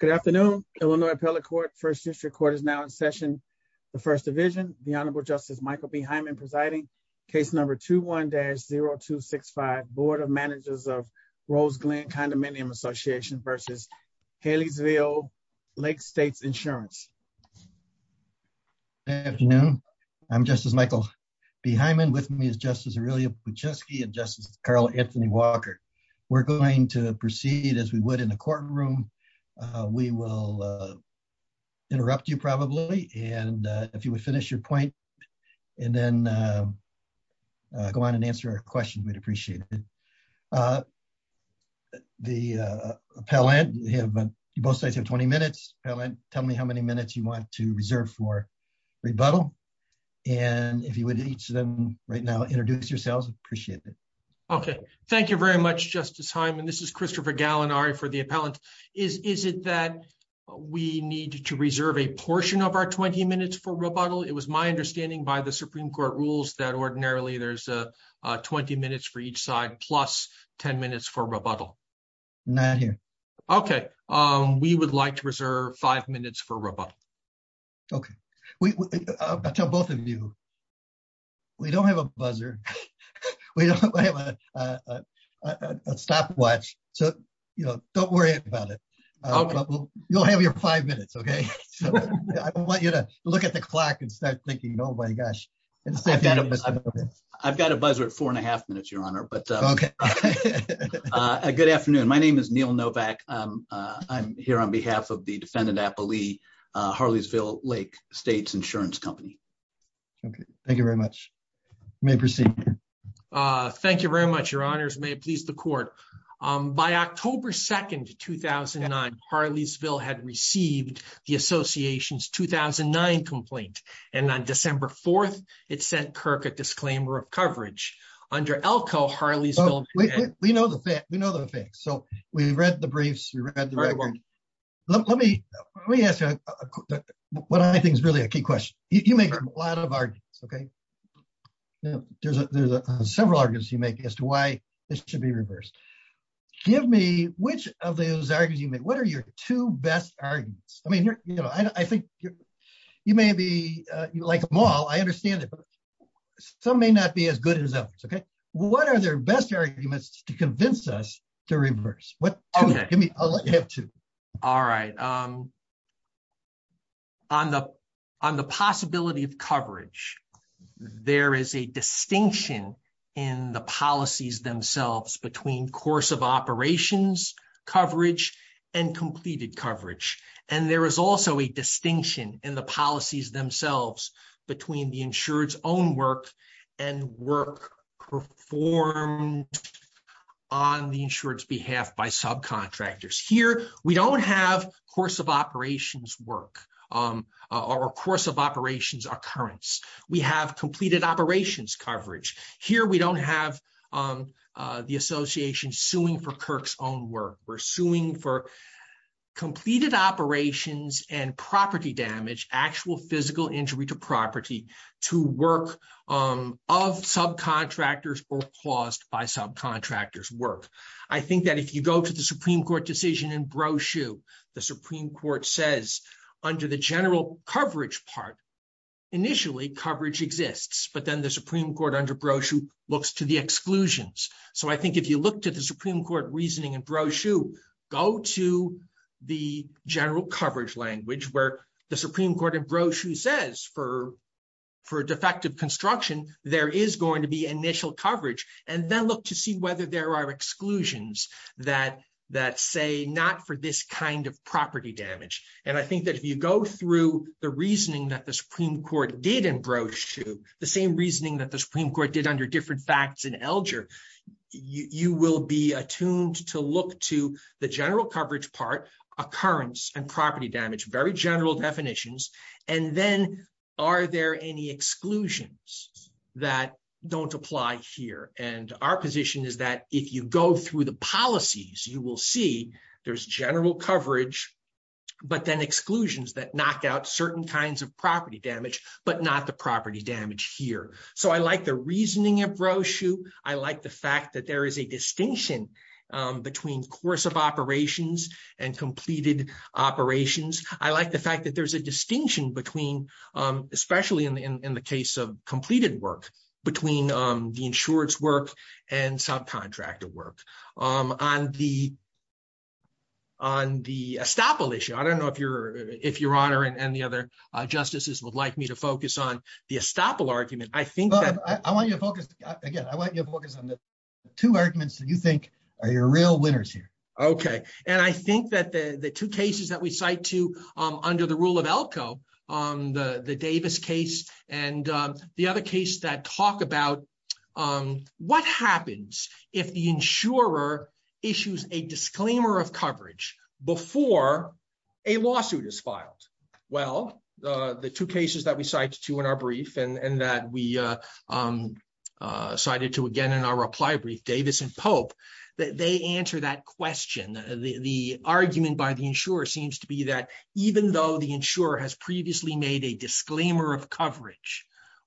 Good afternoon, Illinois Appellate Court. First District Court is now in session. The First Division, the Honorable Justice Michael B. Hyman presiding. Case number 21-0265, Board of Managers of Roseglen Condominium Association v. Harleysville Lake States Insurance. Good afternoon. I'm Justice Michael B. Hyman. With me is Justice Aurelia Buczewski and Justice Carl Anthony Walker. We're going to proceed as we would in the courtroom. We will interrupt you probably, and if you would finish your point and then go on and answer our questions, we'd appreciate it. The appellant, both sides have 20 minutes. Appellant, tell me how many minutes you want to reserve for rebuttal. And if you would each of them right now introduce yourselves, appreciate it. Okay. Thank you very much, Justice Hyman. This is Christopher Gallinari for the appellant. Is it that we need to reserve a portion of our 20 minutes for rebuttal? It was my understanding by the Supreme Court rules that ordinarily there's 20 minutes for each side plus 10 minutes for rebuttal. Not here. Okay. We would like to reserve five minutes for rebuttal. Okay. I'll tell both of you, we don't have a buzzer. We don't have a stopwatch. So, you know, don't worry about it. You'll have your five minutes, okay? I want you to look at the clock and start thinking, oh my gosh. I've got a buzzer at four and a half minutes, Your Honor. Okay. Good afternoon. My name is Neil Novak. I'm here on behalf of the defendant appellee, Harleysville Lake States Insurance Company. Okay. Thank you very much. You may proceed. Thank you very much, Your Honors. May it please the court. By October 2nd, 2009, Harleysville had received the association's 2009 complaint. And on December 4th, it sent Kirk a We know the facts. So, we've read the briefs. Let me ask you what I think is really a key question. You make a lot of arguments, okay? There's several arguments you make as to why this should be reversed. Give me which of those arguments you make. What are your two best arguments? I mean, you know, I think you may be, like them all, I understand it, but some may not as good as others, okay? What are their best arguments to convince us to reverse? I'll let you have two. All right. On the possibility of coverage, there is a distinction in the policies themselves between course of operations, coverage, and completed coverage. And there is also a work performed on the insurer's behalf by subcontractors. Here, we don't have course of operations work or course of operations occurrence. We have completed operations coverage. Here, we don't have the association suing for Kirk's own work. We're suing for completed operations and property damage, actual physical injury to property, to work of subcontractors or caused by subcontractors' work. I think that if you go to the Supreme Court decision in brochure, the Supreme Court says, under the general coverage part, initially coverage exists, but then the Supreme Court under brochure looks to the exclusions. So, I think if you look to Supreme Court reasoning in brochure, go to the general coverage language where the Supreme Court in brochure says for defective construction, there is going to be initial coverage, and then look to see whether there are exclusions that say not for this kind of property damage. And I think that if you go through the reasoning that the Supreme Court did in brochure, the same reasoning that Supreme Court did under different facts in Elger, you will be attuned to look to the general coverage part, occurrence, and property damage, very general definitions. And then, are there any exclusions that don't apply here? And our position is that if you go through the policies, you will see there's general coverage, but then exclusions that knock out certain kinds of property damage, but not the property damage here. So, I like the reasoning of brochure. I like the fact that there is a distinction between course of operations and completed operations. I like the fact that there's a distinction between, especially in the case of completed work, between the insurance work and subcontractor work. On the estoppel issue, I don't know if Your Honor and the other focus on the estoppel argument. I want you to focus, again, I want you to focus on the two arguments that you think are your real winners here. Okay. And I think that the two cases that we cite to under the rule of Elko, the Davis case and the other case that talk about what happens if the insurer issues a disclaimer of coverage before a lawsuit is filed? Well, the two cases that we cite to in our brief and that we cited to again in our reply brief, Davis and Pope, they answer that question. The argument by the insurer seems to be that even though the insurer has previously made a disclaimer of coverage,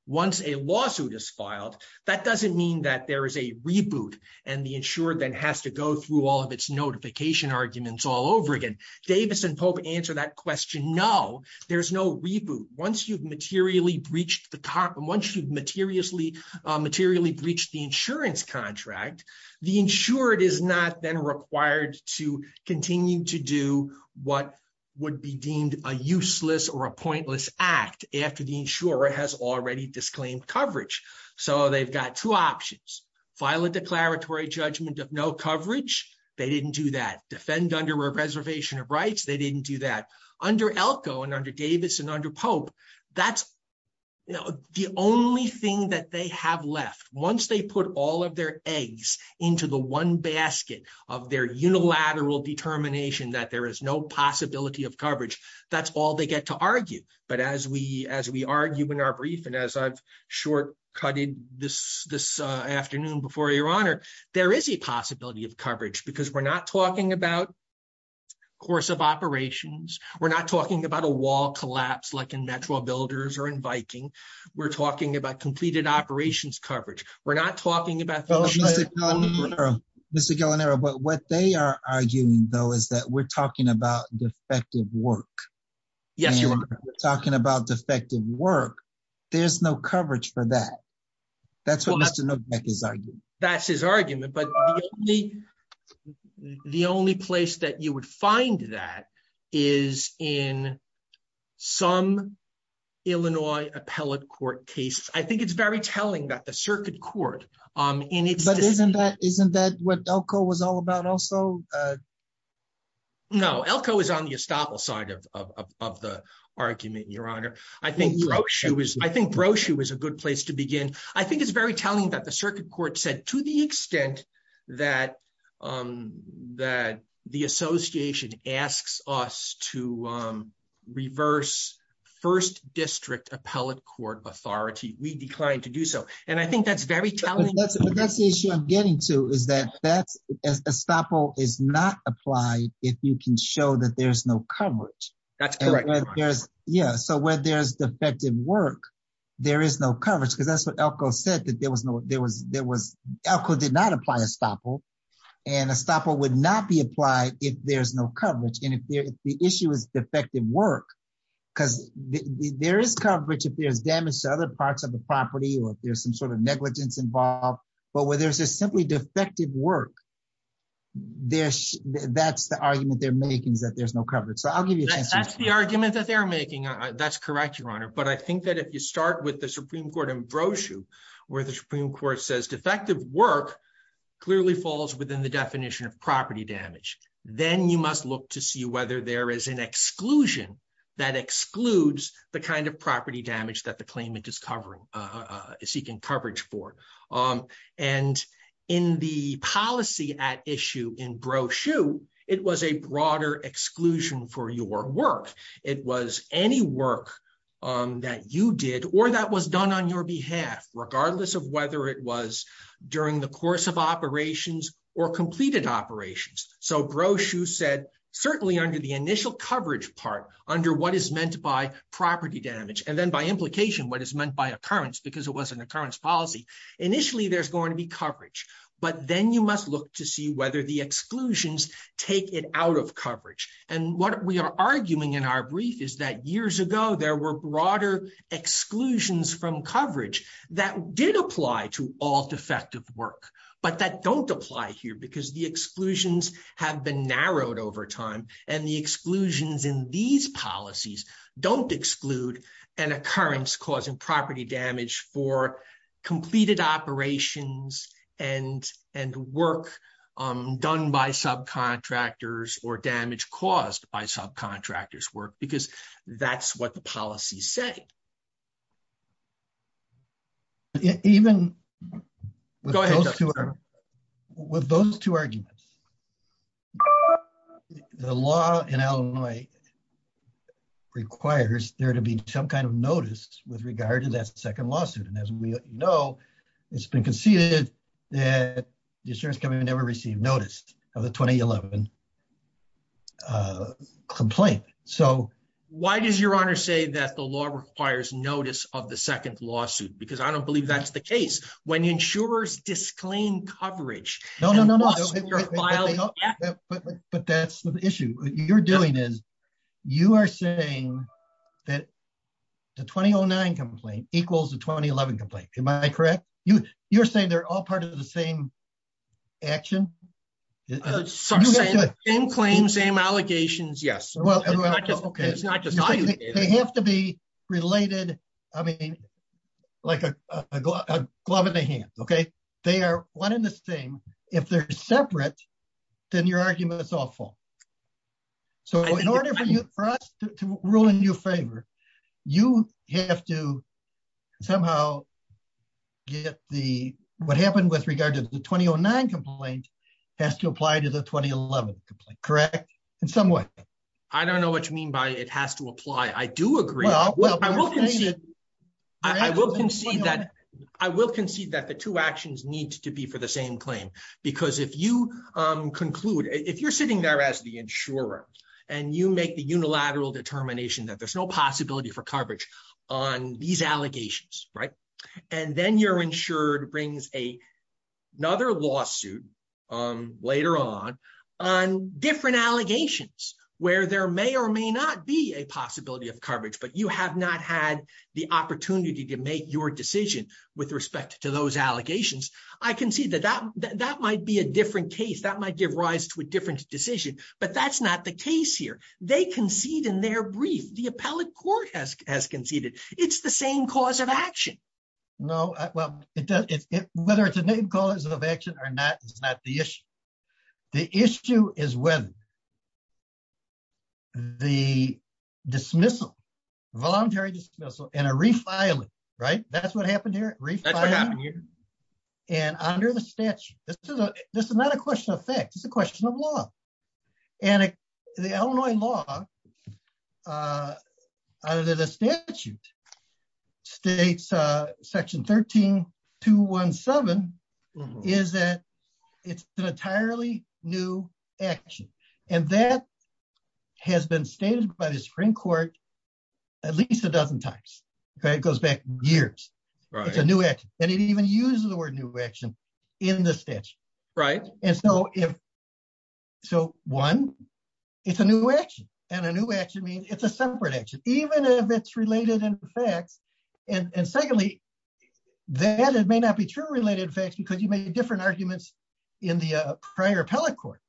once a lawsuit is filed, that doesn't mean that there is a reboot and the insurer then has to go through all of its notification arguments all over again. Davis and Pope answer that question, no, there's no reboot. Once you've materially breached the insurance contract, the insurer is not then required to continue to do what would be deemed a useless or a pointless act after the insurer has already disclaimed coverage. So they've got two options. File a declaratory judgment of no coverage. They didn't do that. Defend under a reservation of rights. They didn't do that. Under Elko and under Davis and under Pope, that's the only thing that they have left. Once they put all of their eggs into the one basket of their unilateral determination that there is no possibility of coverage, that's all they get to argue. But as we argue in our brief and as I've shortcutted this afternoon before your honor, there is a possibility of coverage because we're not talking about course of operations. We're not talking about a wall collapse like in Metro Builders or in Viking. We're talking about completed operations coverage. We're not talking about... Mr. Guillenaro, what they are arguing though is that we're talking about defective work. Yes, you are. Talking about defective work. There's no coverage for that. That's what Mr. Novak is arguing. That's his argument. But the only place that you would find that is in some Illinois appellate court case. I think it's very telling that the circuit court... Isn't that what Elko was all about also? No, Elko is on the estoppel side of the argument, your honor. I think Brochu is a good place to to the extent that the association asks us to reverse first district appellate court authority, we decline to do so. And I think that's very telling. But that's the issue I'm getting to is that estoppel is not applied if you can show that there's no coverage. So when there's defective work, there is no coverage because that's what Elko did not apply estoppel. And estoppel would not be applied if there's no coverage. And if the issue is defective work, because there is coverage if there's damage to other parts of the property, or if there's some sort of negligence involved. But where there's just simply defective work, that's the argument they're making is that there's no coverage. So I'll give you a chance... That's the argument that they're making. That's correct, your honor. But I think that if you say defective work clearly falls within the definition of property damage, then you must look to see whether there is an exclusion that excludes the kind of property damage that the claimant is seeking coverage for. And in the policy at issue in Brochu, it was a broader exclusion for your work. It was any work that you did, or that was done on your behalf, regardless of whether it was during the course of operations or completed operations. So Brochu said, certainly under the initial coverage part, under what is meant by property damage, and then by implication, what is meant by occurrence, because it was an occurrence policy. Initially, there's going to be coverage, but then you must look to see whether the exclusions take it out of coverage. And what we are arguing in our brief is that years ago, there were broader exclusions from coverage that did apply to all defective work, but that don't apply here because the exclusions have been narrowed over time. And the exclusions in these policies don't exclude an occurrence causing property damage for completed operations and work done by subcontractors or contractors. Even with those two arguments, the law in Illinois requires there to be some kind of notice with regard to that second lawsuit. And as we know, it's been conceded that the insurance company never received notice of the 2011 complaint. So why does your honor say that law requires notice of the second lawsuit? Because I don't believe that's the case when insurers disclaim coverage. No, no, no, no. But that's the issue you're doing is you are saying that the 2009 complaint equals the 2011 complaint. Am I correct? You're saying they're all part of the same action? Same claim, same allegations. Yes. They have to be related. I mean, like a glove in the hand. Okay. They are one in the same. If they're separate, then your argument is awful. So in order for us to rule in your favor, you have to somehow get what happened with regard to the 2009 complaint has to apply to the 2011 complaint, correct? In some way. I don't know what you mean by it has to apply. I do agree. I will concede that the two actions need to be for the same claim. Because if you conclude, if you're sitting there as the insurer and you make the unilateral determination that there's no possibility for coverage on these allegations, right? And then you're insured brings another lawsuit later on, on different allegations where there may or may not be a possibility of coverage, but you have not had the opportunity to make your decision with respect to those allegations. I can see that that might be a different case that might give rise to a different decision, but that's not the case here. They concede in their brief, the appellate court has conceded. It's the same cause of action. No, it does. Whether it's a name cause of action or not, it's not the issue. The issue is when the dismissal, voluntary dismissal and a refiling, right? That's what happened here. And under the statute, this is not a question of facts. It's a question of law. And the Illinois law under the statute states section 13217 is that it's an entirely new action. And that has been stated by the Supreme court at least a dozen times, okay? It goes back years. It's a new act. And it even uses the word new action in the statute. Right. And so if, so one, it's a new action and a new action means it's a separate action, even if it's related in the facts. And secondly, that it may not be true related effects because you made different arguments in the prior appellate court,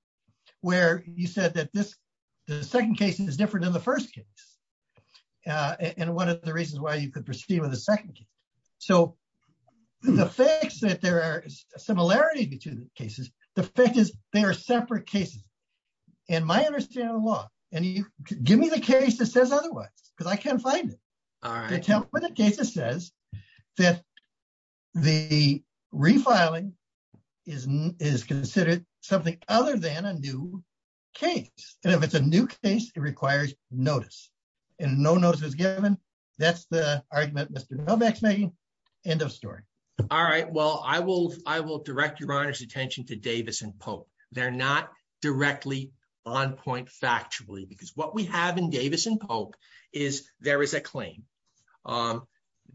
where you said that this, the second case is different than the first case. And one of the reasons why you could proceed with the second case. So the facts that there are similarities between the cases, the fact is they are separate cases. And my understanding of the law, and you give me the case that says otherwise, cause I can't find it. The case that says that the refiling is considered something other than a new case. And if it's a new case, it requires notice and no notice was given. That's the argument Mr. Novak's making. End of story. All right. Well, I will, I will direct your honor's attention to Davis and Pope. They're not directly on point factually, because what we have in Davis and Pope is there is a claim.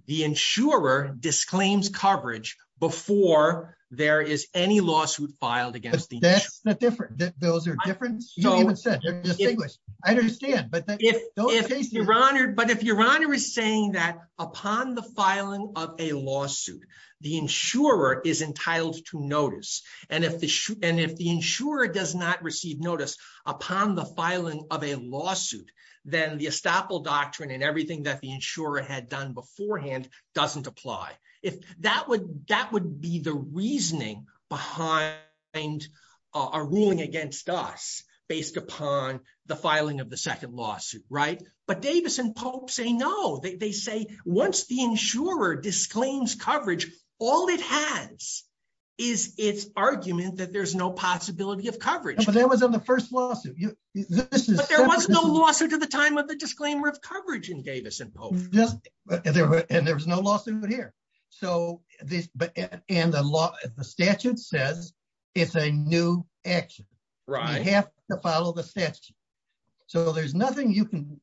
The insurer disclaims coverage before there is any lawsuit filed against the insurer. That's not different. Those are different. Distinguished. I understand. But if your honor is saying that upon the filing of a lawsuit, the insurer is entitled to notice. And if the insurer does not receive notice upon the filing of a lawsuit, then the estoppel doctrine and everything that the insurer had done beforehand doesn't apply. If that would, that would be the reasoning behind our ruling against us. Based upon the filing of the second lawsuit, right? But Davis and Pope say, no, they say once the insurer disclaims coverage, all it has is its argument that there's no possibility of coverage. But that was on the first lawsuit. But there was no lawsuit at the time of the disclaimer of coverage in Davis and Pope. And there was no lawsuit here. And the statute says it's a new action. You have to follow the statute. So there's nothing you can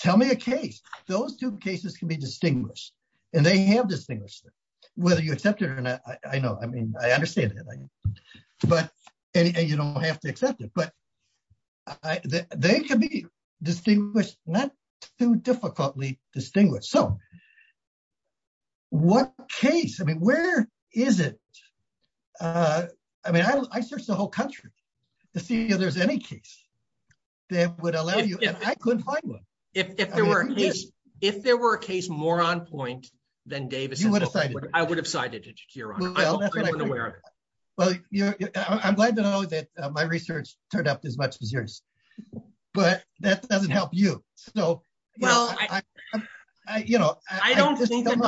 tell me a case. Those two cases can be distinguished. And they have distinguished whether you accept it or not. I know. I mean, I understand that. But you don't have to accept it. But they can be distinguished, not too difficultly distinguished. So what case? I mean, where is it? I mean, I searched the whole country to see if there's any case that would allow you. I couldn't find one. If there were a case more on point than Davis and Pope, I would have cited it, Your Honor. Well, I'm glad to know that my research turned out as much as yours. But that doesn't help you. Well, I don't think that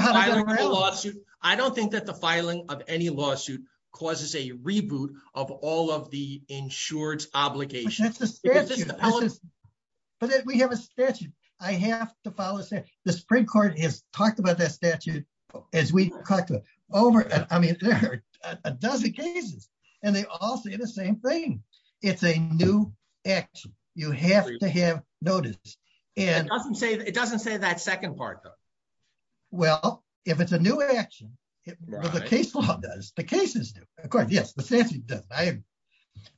the filing of any lawsuit causes a reboot of all of the insured obligations. But we have a statute. I have to follow the statute. The Supreme Court has talked about that statute, as we talked about over a dozen cases. And they all say the same thing. It's a new action. You have to have notice. It doesn't say that second part, though. Well, if it's a new action, the case law does, the cases do. Of course, yes, the statute does.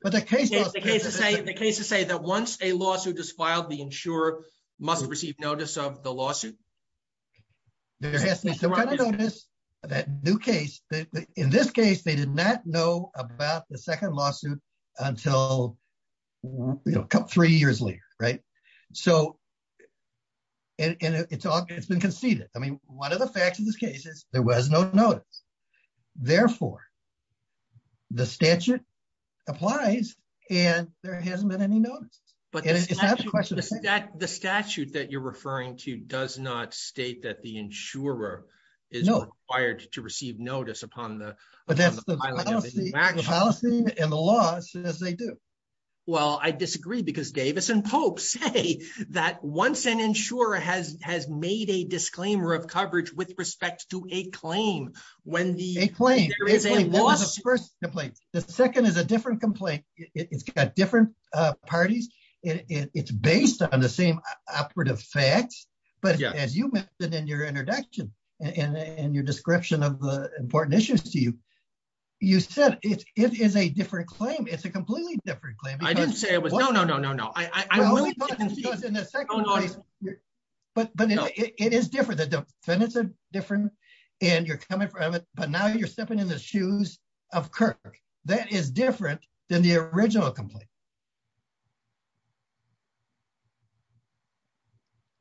The cases say that once a lawsuit is filed, the insurer must receive notice of the lawsuit. There has to be some kind of notice of that new case. In this case, they did not know about the lawsuit until three years later. It's been conceded. One of the facts of this case is there was no notice. Therefore, the statute applies and there hasn't been any notice. The statute that you're referring to does not state that the insurer is required to receive notice upon the filing of a new action. The policy and the law says they do. Well, I disagree because Davis and Pope say that once an insurer has made a disclaimer of coverage with respect to a claim, when there is a lawsuit- A claim. There was a first complaint. The second is a different complaint. It's got different facts, but as you mentioned in your introduction and your description of the important issues to you, you said it is a different claim. It's a completely different claim. I didn't say it was. No, no, no, no, no. But it is different. The defendants are different and you're coming from it, but now you're stepping in the shoes of Kirk. That is different than the original complaint.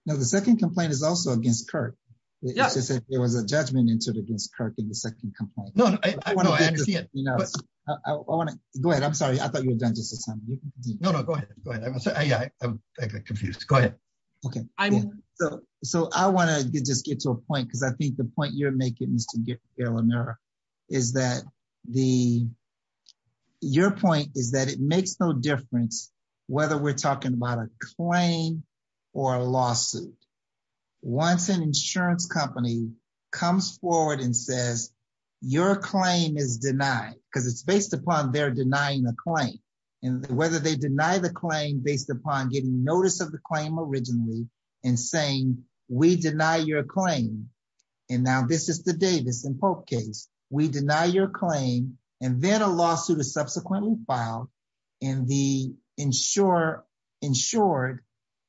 Now, the second complaint is also against Kirk. There was a judgment entered against Kirk in the second complaint. No, no, I understand. Go ahead. I'm sorry. I thought you were done just in time. No, no, go ahead. I'm confused. Go ahead. Okay. So I want to just get to a point because I think the point you're making, Mr. Guerlainere, is that your point is that it makes no difference whether we're talking about a claim or a lawsuit. Once an insurance company comes forward and says your claim is denied, because it's based upon their denying the claim, and whether they deny the claim based upon getting notice of the claim originally and saying, we deny your claim, and now this is the Davis and Pope case, we deny your claim, and then a lawsuit is subsequently filed, and the insured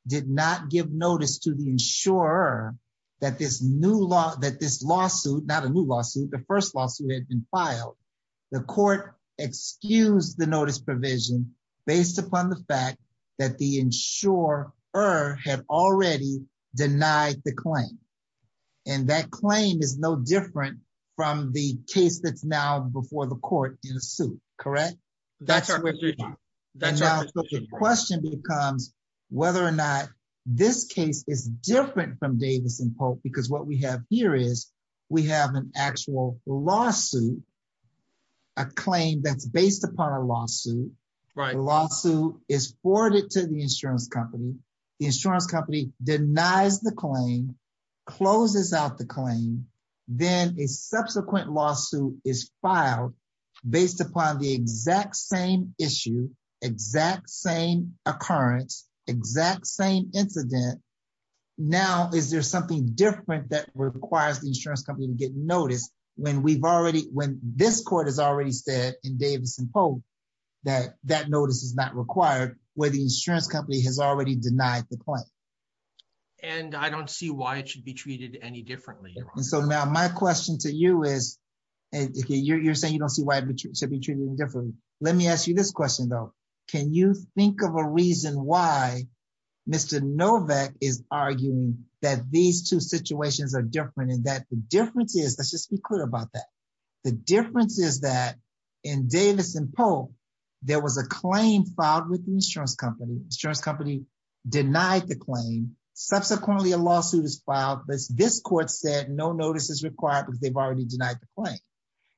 did not give notice to the insurer that this lawsuit, not a new lawsuit, the first lawsuit that had been filed, the court excused the notice provision based upon the fact that the insurer had already denied the claim, and that claim is no different from the case that's now before the court in a suit, correct? That's our position. And now the question becomes whether or not this case is different from Davis and Pope because what we have here is we have an actual lawsuit, a claim that's based upon a lawsuit, the lawsuit is forwarded to the insurance company, the insurance company denies the claim, closes out the claim, then a subsequent lawsuit is filed based upon the exact same issue, exact same occurrence, exact same incident, now is there something different that requires the insurance company to get notice when we've already, when this court has already said in Davis and Pope that that notice is not required, where the insurance company has already denied the claim? And I don't see why it should be treated any differently. And so now my question to you is, you're saying you don't see why it should be treated differently, let me ask you this question though, can you think of a reason why Mr. Novak is arguing that these two situations are different, and that the difference is, let's just be clear about that, the difference is that in Davis and Pope there was a claim filed with the insurance company, insurance company denied the claim, subsequently a lawsuit is filed, but this court said no notice is required because they've already denied the claim,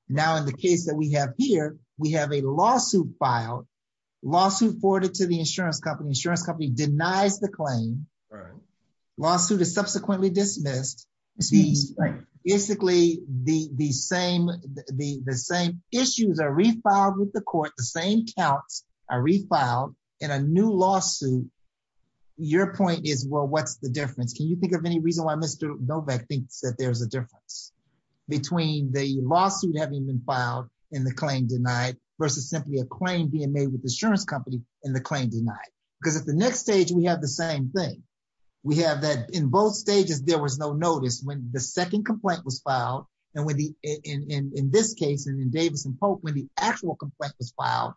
now in the case that we have here, we have a lawsuit filed, lawsuit forwarded to the insurance company, insurance company denies the claim, lawsuit is subsequently dismissed, basically the same issues are refiled with the court, the same counts are refiled in a new lawsuit, your point is well what's the difference, can you think of any reason why Mr. Novak thinks that there's a difference between the lawsuit having been filed and the claim denied versus simply a claim being made with the insurance company and the claim denied, because at the next stage we have the same thing, we have that in both stages there was no notice when the second complaint was filed, and in this case in Davis and Pope when the actual complaint was filed,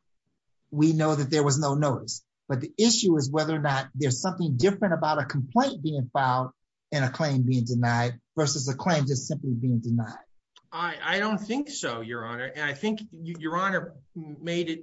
we know that there was no notice, but the issue is whether or not there's something different about a complaint being filed and a claim being denied versus a claim just simply being denied. I don't think so your honor, and I think your honor made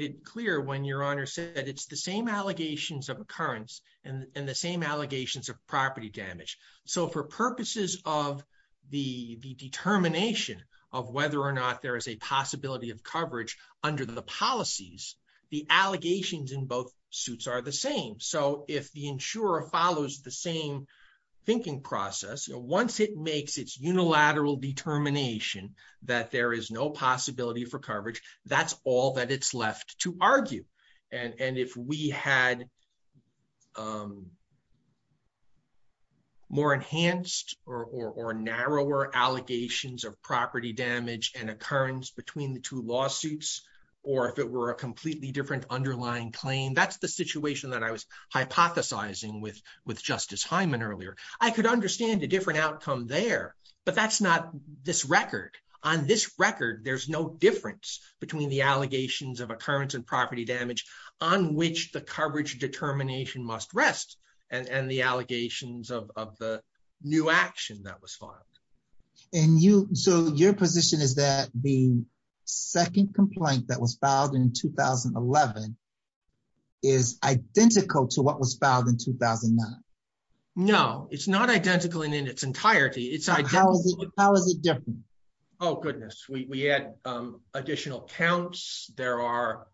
it clear when your honor said that it's the same allegations of occurrence and the same allegations of property damage, so for purposes of the determination of whether or not there is a possibility of coverage under the policies, the allegations in both suits are the same, so if the insurer follows the same thinking process, once it makes its unilateral determination that there is no possibility for coverage, that's all that it's left to argue, and if we had more enhanced or narrower allegations of property damage and occurrence between the two lawsuits, or if it were a completely different underlying claim, that's the situation that I was hypothesizing with Justice Hyman earlier. I could understand a different outcome there, but that's not this record. On this record there's no difference between the on which the coverage determination must rest and the allegations of the new action that was filed. And you, so your position is that the second complaint that was filed in 2011 is identical to what was filed in 2009? No, it's not identical in its entirety. How is it different? Oh goodness, we had additional counts, there are,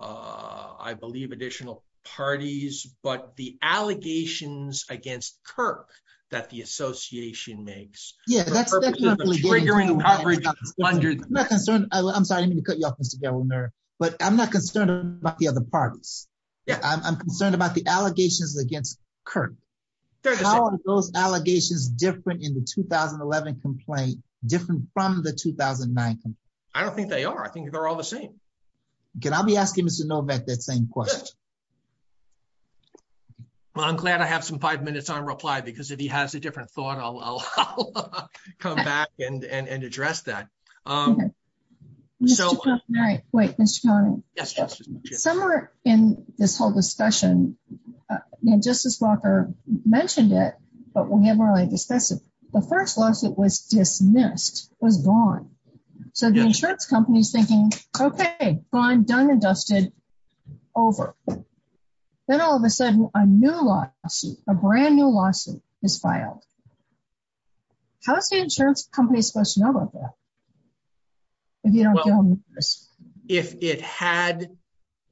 I believe, additional parties, but the allegations against Kirk that the association makes. I'm sorry, I didn't mean to cut you off, Mr. Governor, but I'm not concerned about the other parties. I'm concerned about the allegations against Kirk. How are those 2011 complaints different from the 2009? I don't think they are, I think they're all the same. Can I be asking Mr. Novak that same question? Well, I'm glad I have some five minutes on reply, because if he has a different thought, I'll come back and address that. Somewhere in this whole discussion, Justice Walker mentioned it, but we haven't really the first lawsuit was dismissed, was gone. So the insurance company's thinking, okay, gone, done and dusted, over. Then all of a sudden, a new lawsuit, a brand new lawsuit is filed. How is the insurance company supposed to know about that? If it had,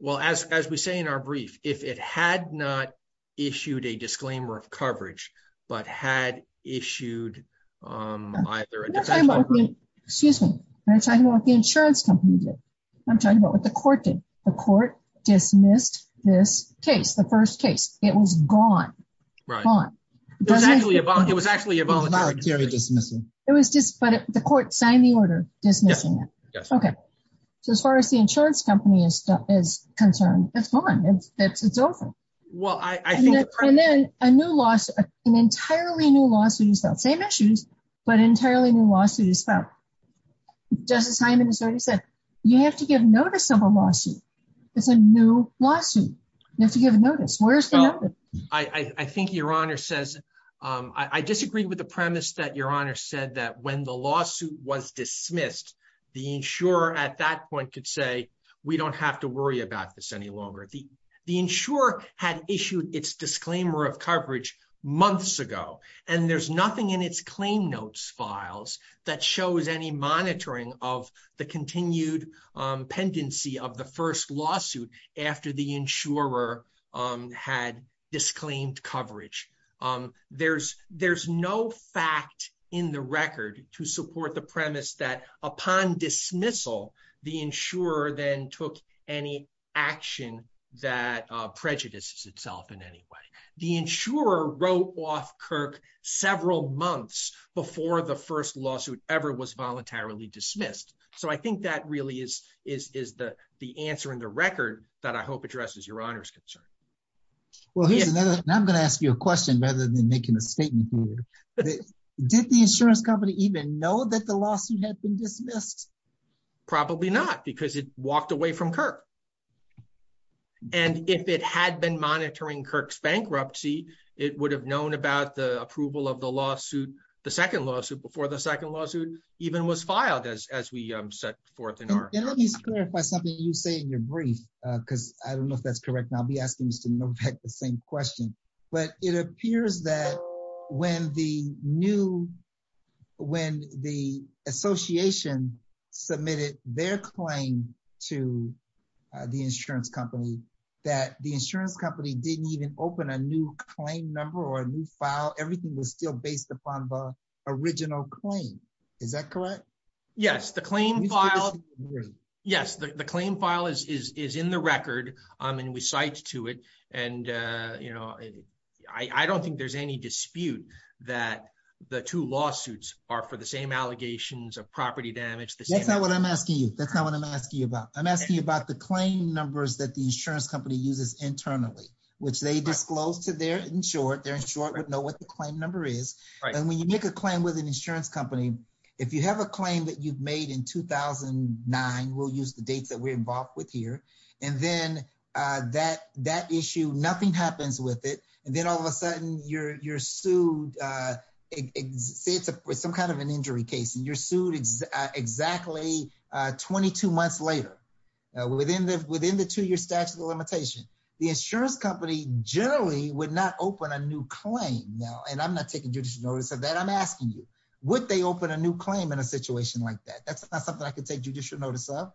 well, as we say in our brief, if it had not issued a disclaimer of coverage, but had issued either... Excuse me, I'm talking about what the insurance company did. I'm talking about what the court did. The court dismissed this case, the first case. It was gone, gone. It was actually a voluntary dismissal. It was just, but the court signed the order dismissing it. Okay. So as far as the insurance company is concerned, it's gone. It's over. And then a new lawsuit, an entirely new lawsuit is filed. Same issues, but entirely new lawsuit is filed. Justice Hyman has already said, you have to give notice of a lawsuit. It's a new lawsuit. You have to give notice. I think Your Honor says, I disagree with the premise that Your Honor said that when the don't have to worry about this any longer. The insurer had issued its disclaimer of coverage months ago, and there's nothing in its claim notes files that shows any monitoring of the continued pendency of the first lawsuit after the insurer had disclaimed coverage. There's no fact in the record to support the premise that upon dismissal, the insurer then took any action that prejudices itself in any way. The insurer wrote off Kirk several months before the first lawsuit ever was voluntarily dismissed. So I think that really is the answer in the record that I hope addresses Your Honor's concern. Well, I'm going to ask you a question rather than making a statement here. Did the insurance company even know that the lawsuit had been dismissed? Probably not, because it walked away from Kirk. And if it had been monitoring Kirk's bankruptcy, it would have known about the approval of the lawsuit, the second lawsuit before the second lawsuit even was filed as we set forth in our- Let me just clarify something you say in your brief, because I don't know if that's correct. I'll be asking Mr. Novak the same question. But it appears that when the association submitted their claim to the insurance company, that the insurance company didn't even open a new claim number or a new file. Everything was still based upon the original claim. Is that correct? Yes. The claim file is in the record and we cite to it. And I don't think there's any dispute that the two lawsuits are for the same allegations of property damage. That's not what I'm asking you. That's not what I'm asking you about. I'm asking you about the claim numbers that the insurance company uses internally, which they disclose to their insured. Their insured would know what the claim number is. And when you make a claim with an insurance company, if you have a claim that you've made in 2009, we'll use the dates that we're involved with here. And then that issue, nothing happens with it. And then all of a sudden you're sued, say it's some kind of an injury case and you're sued exactly 22 months later within the two year statute of limitation. The insurance company generally would not open a new claim. And I'm taking judicial notice of that. I'm asking you, would they open a new claim in a situation like that? That's not something I could take judicial notice of.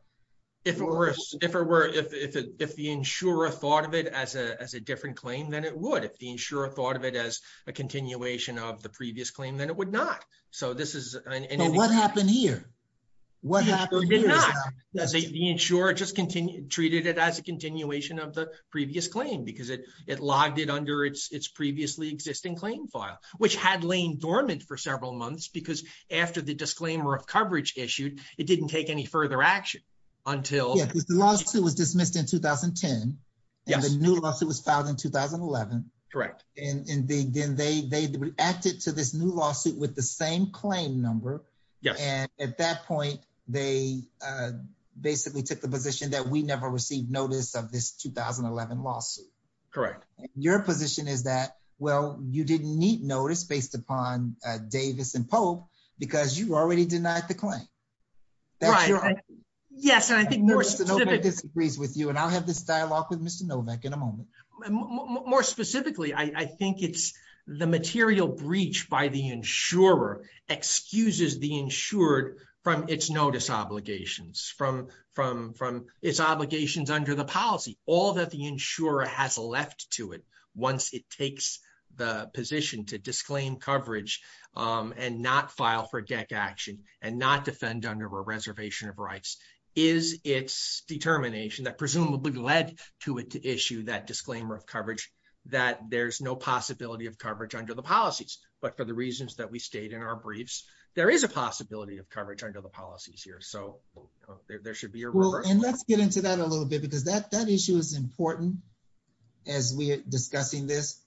If it were, if it, if the insurer thought of it as a, as a different claim than it would, if the insurer thought of it as a continuation of the previous claim, then it would not. So this is what happened here. What happened? The insurer just continued, treated it as a continuation of the previous claim because it, it logged it under its, its previously existing claim file, which had lain dormant for several months because after the disclaimer of coverage issued, it didn't take any further action until the lawsuit was dismissed in 2010. And the new lawsuit was filed in 2011. Correct. And then they, they reacted to this new lawsuit with the same claim number. Yes. And at that point they basically took the position that we never received notice of this 2011 lawsuit. Correct. Your position is that, well, you didn't need notice based upon Davis and Pope because you already denied the claim. Yes. And I think more specifically. And I'll have this dialogue with Mr. Novak in a moment. More specifically, I think it's the material breach by the insurer excuses the insured from its notice obligations from, from, from its obligations under the policy, all that the insurer has left to it. Once it takes the position to disclaim coverage and not file for deck action and not defend under a reservation of rights is its determination that presumably led to it, to issue that disclaimer of coverage that there's no possibility of coverage under the policies. But for the reasons that we stayed in our briefs, there is a possibility of coverage under the policies here. So there should be a rule. And let's get into that a little bit, because that, that issue is important as we are discussing this.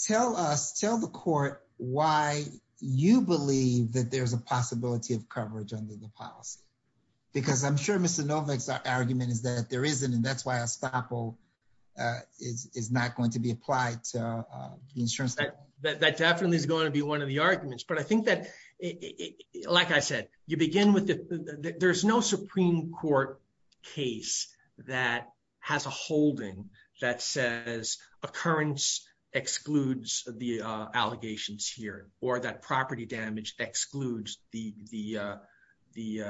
Tell us, tell the court why you believe that there's a possibility of coverage under the policy, because I'm sure Mr. Novak's argument is that there isn't. And that's why a staple is, is not going to be applied to the insurance. That definitely is going to be one of the arguments, but I think that like I said, you begin with the, there's no Supreme Court case that has a holding that says occurrence excludes the allegations here, or that property damage excludes the, the, the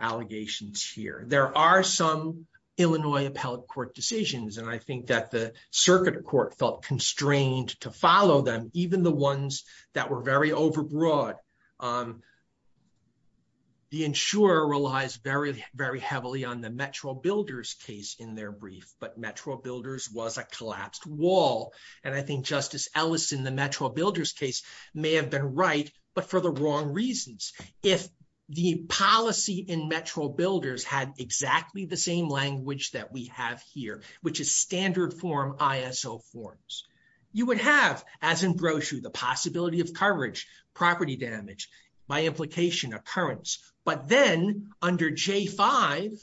allegations here. There are some Illinois appellate court decisions. And I think that the circuit court felt constrained to follow them. Even the ones that were very overbroad, the insurer relies very, very heavily on the Metro Builders case in their brief, but Metro Builders was a collapsed wall. And I think Justice Ellison, the Metro Builders case may have been right, but for the wrong reasons. If the policy in Metro Builders had exactly the same language that we have here, which is standard form ISO forms, you would have as in property damage by implication occurrence, but then under J5,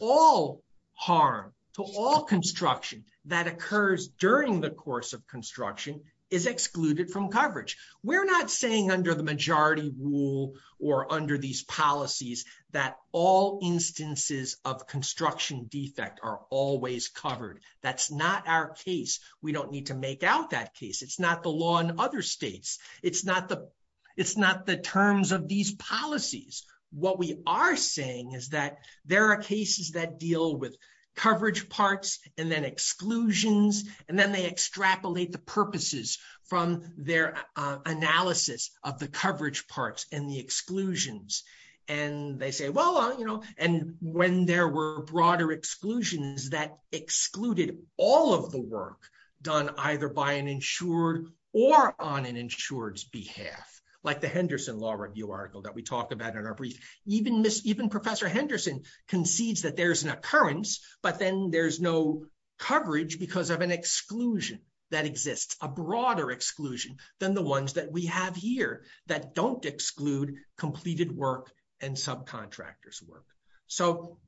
all harm to all construction that occurs during the course of construction is excluded from coverage. We're not saying under the majority rule or under these policies that all instances of construction defect are always covered. That's not our case. We don't need to make out that case. It's not the law in other states. It's not the, it's not the terms of these policies. What we are saying is that there are cases that deal with coverage parts and then exclusions, and then they extrapolate the purposes from their analysis of the coverage parts and the exclusions. And they say, well, you know, and when there were broader exclusions that excluded all of the work done either by an insured or on an insured's behalf, like the Henderson Law Review article that we talked about in our brief, even Professor Henderson concedes that there's an occurrence, but then there's no coverage because of an exclusion that exists, a broader exclusion than the ones that we have here that don't exclude completed work and subcontractors work. So,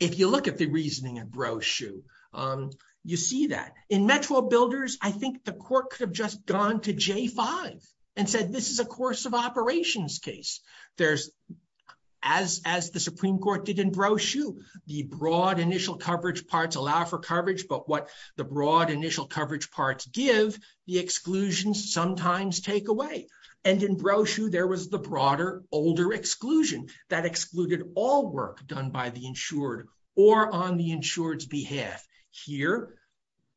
if you look at the reasoning in Broshue, you see that. In Metro Builders, I think the court could have just gone to J5 and said, this is a course of operations case. There's, as the Supreme Court did in Broshue, the broad initial coverage parts allow for coverage, but what the broad initial coverage parts give, the exclusions sometimes take away. And in Broshue, there was the broader, older exclusion that excluded all work done by the insured or on the insured's behalf. Here,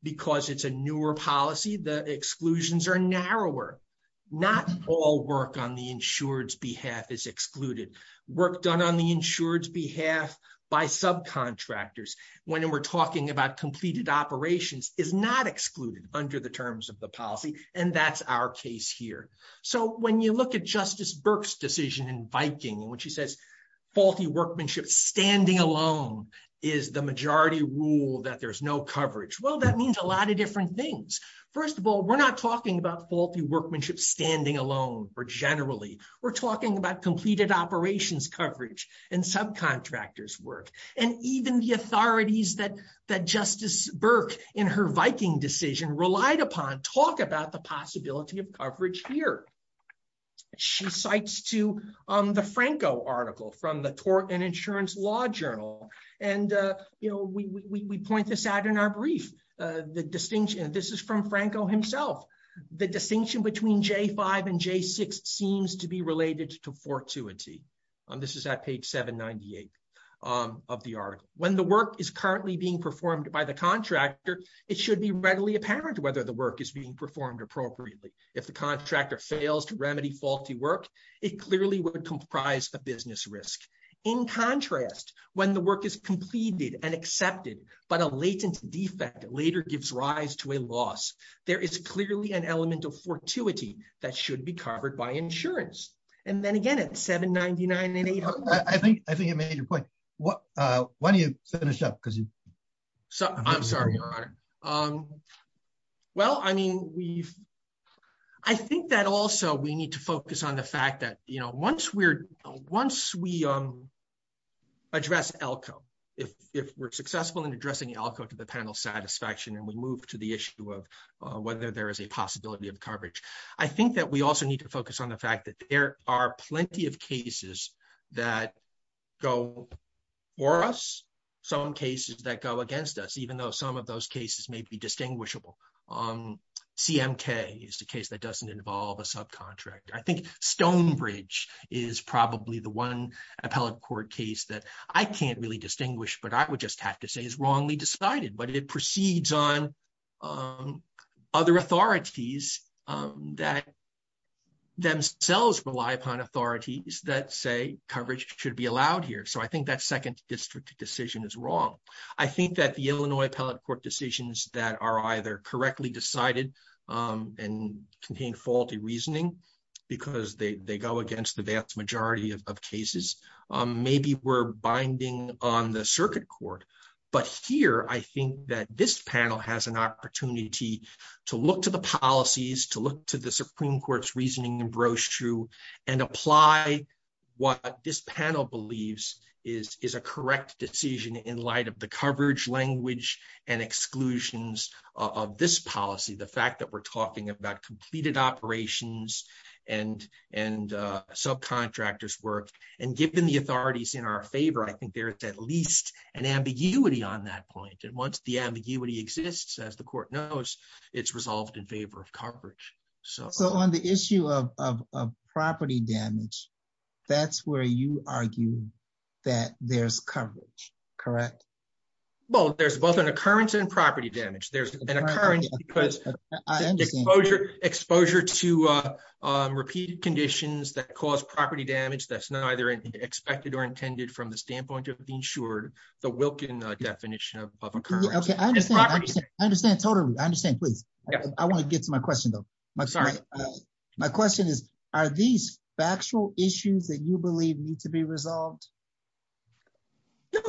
because it's a newer policy, the exclusions are narrower. Not all work on the insured's behalf is excluded. Work done on the insured's behalf by subcontractors, when we're talking about completed operations, is not excluded under the terms of the policy. And that's our case here. So, when you look at Justice Burke's decision in Viking, when she says, faulty workmanship standing alone is the majority rule that there's no coverage. Well, that means a lot of different things. First of all, we're not talking about faulty workmanship standing alone or generally. We're talking about completed operations coverage and subcontractors work. And even the authorities that Justice Burke in her Viking decision relied upon talk about the possibility of coverage here. She cites to the Franco article from the Tort and Insurance Law Journal. And, you know, we point this out in our brief. The distinction, and this is from Franco himself, the distinction between J-5 and J-6 seems to be related to fortuity. This is at page 798 of the article. When the work is currently being performed by the contractor, it should be readily apparent whether the work is being performed appropriately. If the contractor fails to remedy faulty work, it clearly would comprise a business risk. In contrast, when the work is completed and accepted, but a latent defect later gives rise to a loss, there is clearly an element of fortuity that should be covered by insurance. And then again 799 and 800. I think I think you made your point. Why don't you finish up? Because I'm sorry, Your Honor. Well, I mean, we've I think that also we need to focus on the fact that, you know, once we're once we address ELCO, if we're successful in addressing ELCO to the panel satisfaction, and we move to the issue of whether there is a possibility of coverage, I think that we also need to focus on the fact that there are plenty of cases that go for us, some cases that go against us, even though some of those cases may be distinguishable. CMK is the case that doesn't involve a subcontractor. I think Stonebridge is probably the one appellate court case that I can't really distinguish, but I would just have to say is that themselves rely upon authorities that say coverage should be allowed here. So I think that second district decision is wrong. I think that the Illinois appellate court decisions that are either correctly decided, and contain faulty reasoning, because they go against the vast majority of cases, maybe we're binding on the circuit court. But here, I think that this panel has an opportunity to look to the policies, to look to the Supreme Court's reasoning and brochure, and apply what this panel believes is a correct decision in light of the coverage language and exclusions of this policy, the fact that we're talking about completed operations, and subcontractors work. And given the authorities in our favor, I think there's at least an ambiguity on that point. And once the ambiguity exists, as the court knows, it's resolved in favor of coverage. So on the issue of property damage, that's where you argue that there's coverage, correct? Well, there's both an occurrence and property damage. There's an occurrence because exposure to repeated conditions that cause property damage that's expected or intended from the standpoint of the insured, the Wilkin definition of occurrence. Okay, I understand. I understand totally. I understand, please. I want to get to my question, though. My question is, are these factual issues that you believe need to be resolved?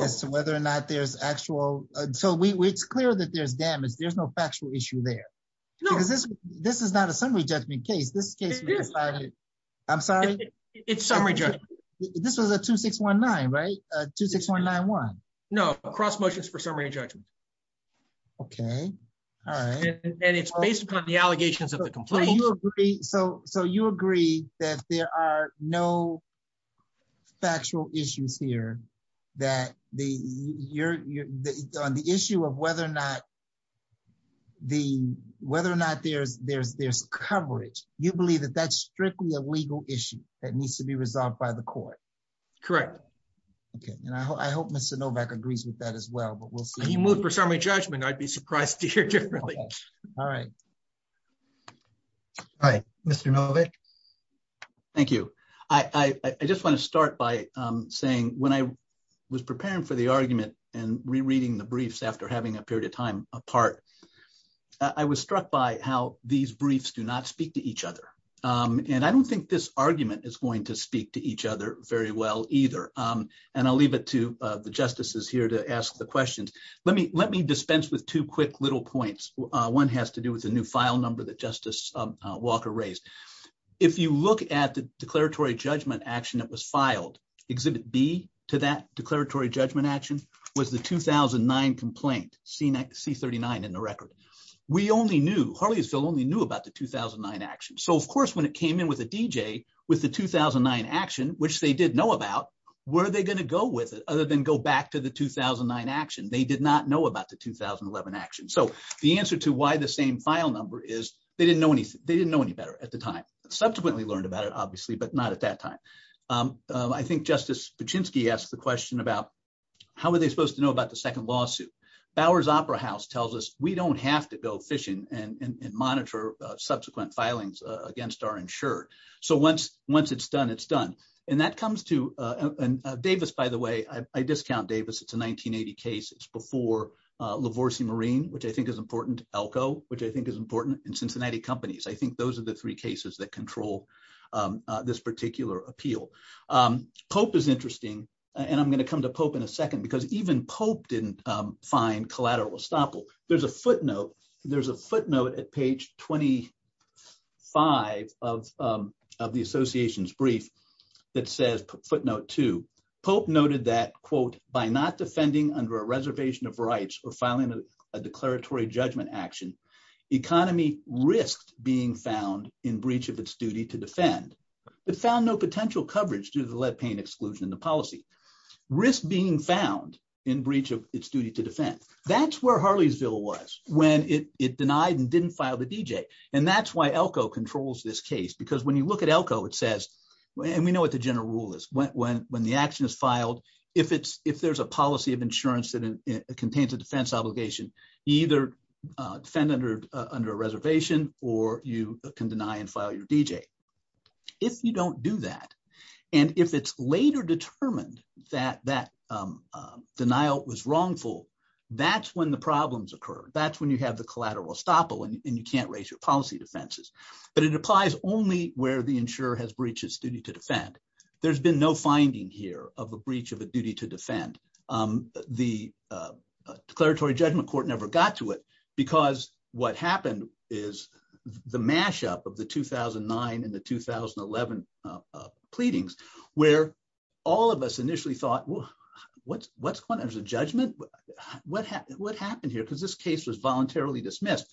As to whether or not there's actual, so it's clear that there's damage, there's no factual issue there. This is not a summary judgment case. This case, I'm sorry. It's summary judgment. This was a 2619, right? 26191. No, cross motions for summary judgment. Okay. All right. And it's based upon the allegations of the complaint. So you agree that there are no factual issues here that on the issue of whether or not there's coverage, you believe that that's strictly a legal issue that needs to be resolved by the court. Correct. Okay. And I hope Mr. Novak agrees with that as well, but we'll see. He moved for summary judgment. I'd be surprised to hear differently. All right. Hi, Mr. Novak. Thank you. I just want to start by saying when I was preparing for the argument and rereading the briefs after having a period of time apart, I was struck by how these briefs do not speak to each other. And I don't think this argument is going to speak to each other very well either. And I'll leave it to the justices here to ask the questions. Let me dispense with two quick little points. One has to do with the new file number that Justice Walker raised. If you look at the declaratory judgment action that was filed, exhibit B to that declaratory judgment action was the 2009 complaint, C39 in the record. We only knew, Harleysville only knew about the 2009 action. So of course, when it came in with a DJ with the 2009 action, which they did know about, where are they going to go with it other than go back to the 2009 action? They did not know about the 2011 action. So the answer to why the same file number is they didn't know any better at the time. Subsequently learned about it, Justice Paczynski asked the question about how are they supposed to know about the second lawsuit? Bowers Opera House tells us we don't have to go fishing and monitor subsequent filings against our insured. So once it's done, it's done. And that comes to Davis, by the way, I discount Davis. It's a 1980 case. It's before LaVorse Marine, which I think is important, Elko, which I think is important and Cincinnati companies. I think those are the three cases that control this Pope is interesting. And I'm going to come to Pope in a second, because even Pope didn't find collateral estoppel. There's a footnote. There's a footnote at page 25 of of the association's brief that says footnote to Pope noted that, quote, by not defending under a reservation of rights or filing a declaratory judgment action, economy risked being found in breach of its duty to defend, but found no potential coverage due to the lead paint exclusion in the policy risk being found in breach of its duty to defend. That's where Harleysville was when it denied and didn't file the DJ. And that's why Elko controls this case, because when you look at Elko, it says and we know what the general rule is when when the action is filed, if it's if there's a policy of insurance that contains a defense obligation, either defendant or under a reservation, or you can deny and file your DJ. If you don't do that, and if it's later determined that that denial was wrongful, that's when the problems occur. That's when you have the collateral estoppel and you can't raise your policy defenses. But it applies only where the insurer has breaches duty to defend. There's been no finding here of a of a duty to defend. The declaratory judgment court never got to it. Because what happened is the mashup of the 2009 and the 2011 pleadings, where all of us initially thought, well, what's what's going on as a judgment? What happened? What happened here? Because this case was voluntarily dismissed.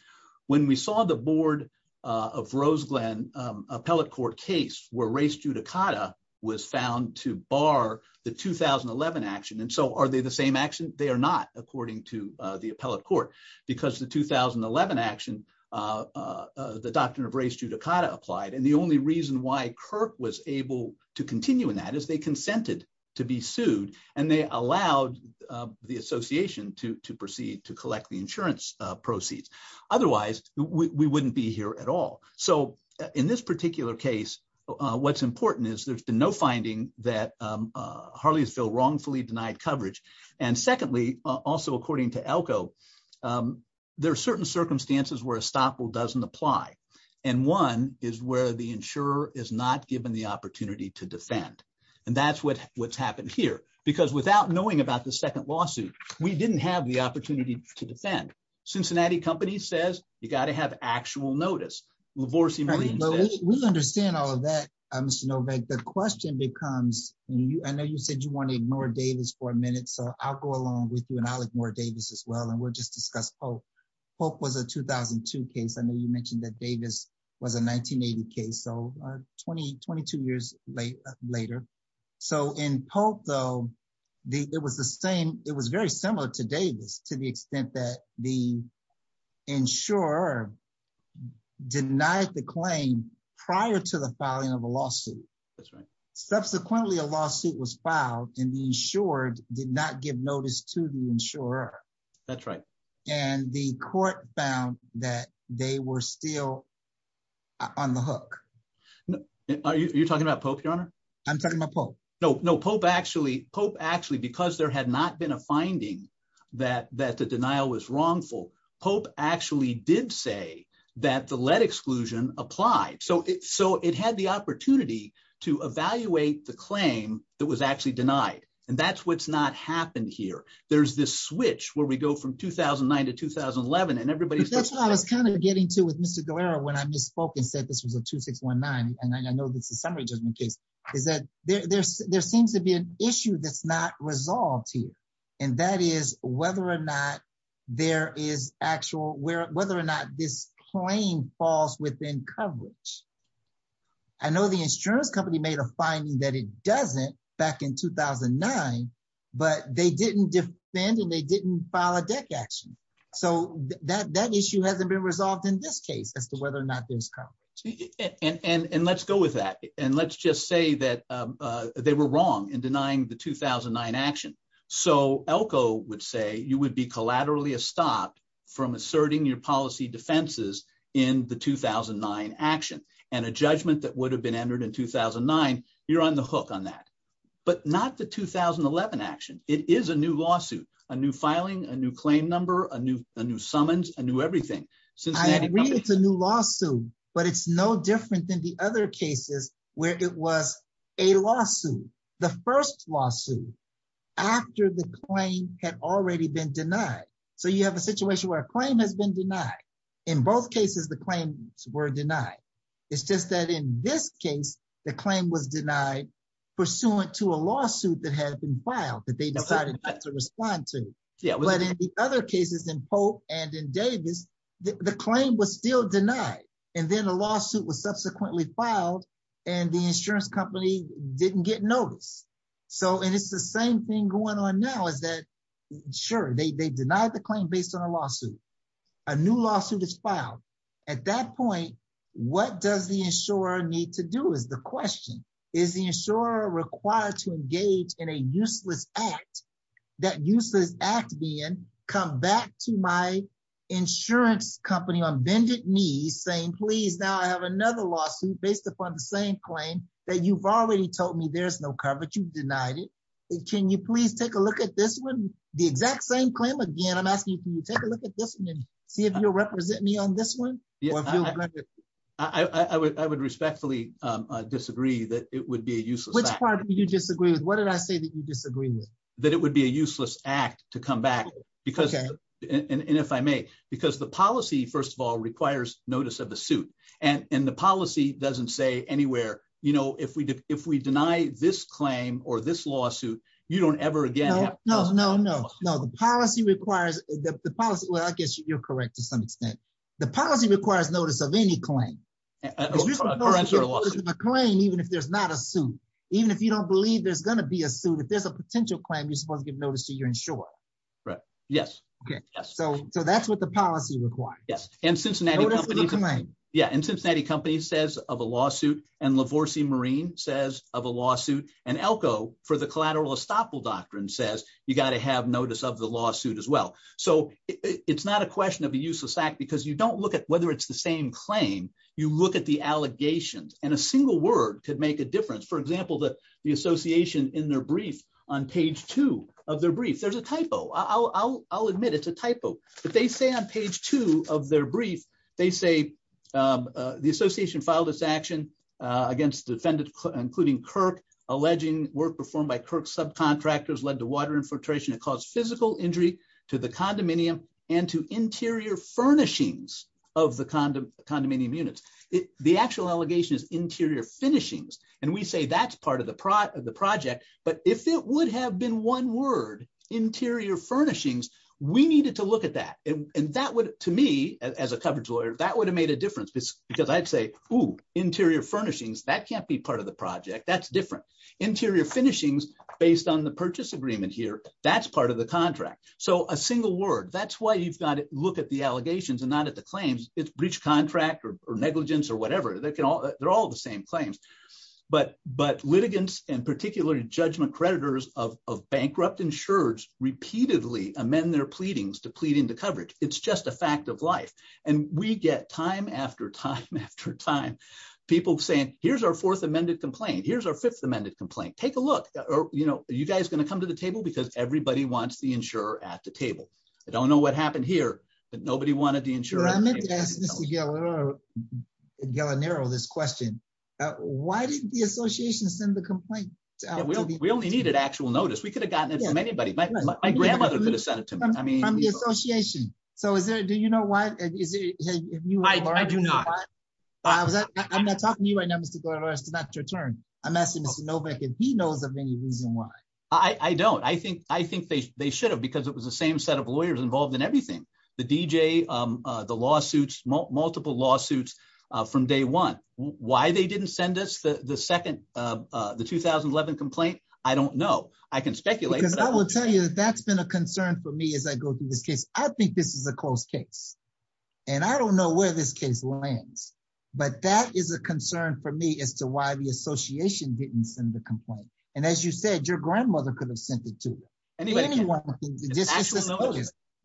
When we saw the board of Roseland appellate court case where race judicata was found to bar the 2011 action. And so are they the same action? They are not according to the appellate court, because the 2011 action, the doctrine of race judicata applied. And the only reason why Kirk was able to continue in that is they consented to be sued. And they allowed the association to proceed to collect the insurance proceeds. Otherwise, we wouldn't be here at all. So in this particular case, what's important is there's been no finding that Harleysville wrongfully denied coverage. And secondly, also, according to Elko, there are certain circumstances where estoppel doesn't apply. And one is where the insurer is not given the opportunity to defend. And that's what what's happened here. Because without knowing about the second lawsuit, we didn't have the opportunity to defend Cincinnati company says you got to have actual notice. Lavorsi. We understand all of that. Mr. Novak, the question becomes you I know you said you want to ignore Davis for a minute. So I'll go along with you. And I like more Davis as well. And we'll just discuss hope. Hope was a 2002 case. I know you mentioned that Davis was a 1980 case. So 2022 years late later. So in Pope, though, the it was the same. It was very similar to Davis to the extent that the insurer denied the claim prior to the filing of a lawsuit. That's right. Subsequently, a lawsuit was filed and the insured did not give notice to the insurer. That's right. And the court found that they were still on the hook. Are you talking about Pope, Your Honor? I'm talking about Pope. No, no, Pope. Actually, Pope, actually, because there had not been a finding that that the denial was wrongful. Pope actually did say that the lead exclusion applied. So so it had the opportunity to evaluate the claim that was actually denied. And that's what's not happened here. There's this switch where we go from 2009 to 2011. And everybody's that's what I was kind of getting to with Mr. Guerrero when I misspoke and said this was a 2619. And I know this is is that there's there seems to be an issue that's not resolved here. And that is whether or not there is actual where whether or not this claim falls within coverage. I know the insurance company made a finding that it doesn't back in 2009, but they didn't defend and they didn't file a deck action. So that that issue hasn't been resolved in this case as to and let's just say that they were wrong in denying the 2009 action. So Elko would say you would be collaterally a stop from asserting your policy defenses in the 2009 action and a judgment that would have been entered in 2009. You're on the hook on that, but not the 2011 action. It is a new lawsuit, a new filing, a new claim number, a new a new summons, a new everything. So it's a new lawsuit, but it's no different than the other cases where it was a lawsuit, the first lawsuit after the claim had already been denied. So you have a situation where a claim has been denied. In both cases, the claims were denied. It's just that in this case, the claim was denied pursuant to a lawsuit that had been filed that they decided to respond to. But in the other cases in Pope and in Davis, the claim was still denied and then a lawsuit was subsequently filed and the insurance company didn't get notice. So and it's the same thing going on now is that sure, they denied the claim based on a lawsuit. A new lawsuit is filed. At that point, what does the insurer need to do is the question, is the insurer required to engage in a useless act, that useless act being come back to my insurance company on bended knees, saying, please, now I have another lawsuit based upon the same claim that you've already told me there's no coverage. You've denied it. Can you please take a look at this one? The exact same claim again. I'm asking you to take a look at this and see if you'll represent me on this one. I would respectfully disagree that it would be a useless. Which part do you disagree with? What did I say that you disagree with? That it would be a useless act to come back because, and if I may, because the policy, first of all, requires notice of the suit and the policy doesn't say anywhere, you know, if we if we deny this claim or this lawsuit, you don't ever again. No, no, no, no. The policy requires the policy. Well, I guess you're correct to some extent. The policy requires notice of any claim. A claim, even if there's not a suit, even if you don't believe there's going to be a suit, if there's a potential claim, you're supposed to give notice to your insurer. Right. Yes. Okay. Yes. So so that's what the policy requires. Yes. And Cincinnati. Yeah. And Cincinnati Company says of a lawsuit and LaVorse Marine says of a lawsuit and Elko for the collateral estoppel doctrine says you got to have notice of the lawsuit as well. So it's not a question of a useless act because you don't look at whether it's the same claim. You look at the allegations and a single word could make a difference. For example, the association in their brief on page two of their brief, there's a typo. I'll admit it's a typo. But they say on page two of their brief, they say the association filed its action against the defendant, including Kirk, alleging work performed by Kirk subcontractors led to water infiltration and caused physical injury to the condominium and to interior furnishings of the condominium units. The actual allegation is interior finishings. And we say that's part of the part of the project. But if it would have been one word interior furnishings, we needed to look at that. And that would to me as a coverage lawyer, that would have made a difference because I'd say, oh, interior furnishings, that can't be part of the project that's different interior finishings based on the purchase agreement here. That's part of the contract or negligence or whatever. They're all the same claims. But litigants and particularly judgment creditors of bankrupt insurers repeatedly amend their pleadings to plead into coverage. It's just a fact of life. And we get time after time after time, people saying, here's our fourth amended complaint. Here's our fifth amended complaint. Take a look. Are you guys going to come to the table? Because everybody wants the insurer at the table. I don't know what happened here. But nobody wanted to ensure this question. Why did the association send the complaint? We only needed actual notice. We could have gotten it from anybody. My grandmother could have sent it to me. I mean, I'm the association. So is there Do you know why? I do not. I'm not talking to you right now, Mr. Gordo. It's not your turn. I'm asking Mr. Novak if he knows of any reason why. I don't I think I think they should have because it was the same set of the DJ, the lawsuits, multiple lawsuits from day one. Why they didn't send us the second the 2011 complaint. I don't know. I can speculate. I will tell you that that's been a concern for me as I go through this case. I think this is a close case. And I don't know where this case lands. But that is a concern for me as to why the association didn't send the complaint. And as you said, your grandmother could have sent it to anyone.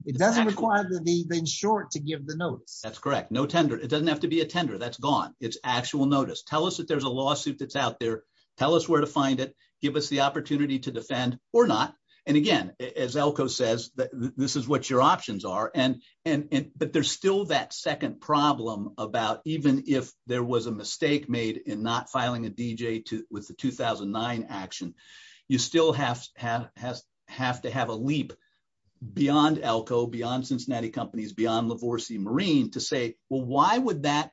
It doesn't require that they've been short to give the notice. That's correct. No tender. It doesn't have to be a tender that's gone. It's actual notice. Tell us that there's a lawsuit that's out there. Tell us where to find it. Give us the opportunity to defend or not. And again, as Elko says that this is what your options are. And but there's still that second problem about even if there was a mistake made in not filing a DJ with the 2009 action, you still have to have a leap beyond Elko, beyond Cincinnati Companies, beyond LaVorse Marine to say, well, why would that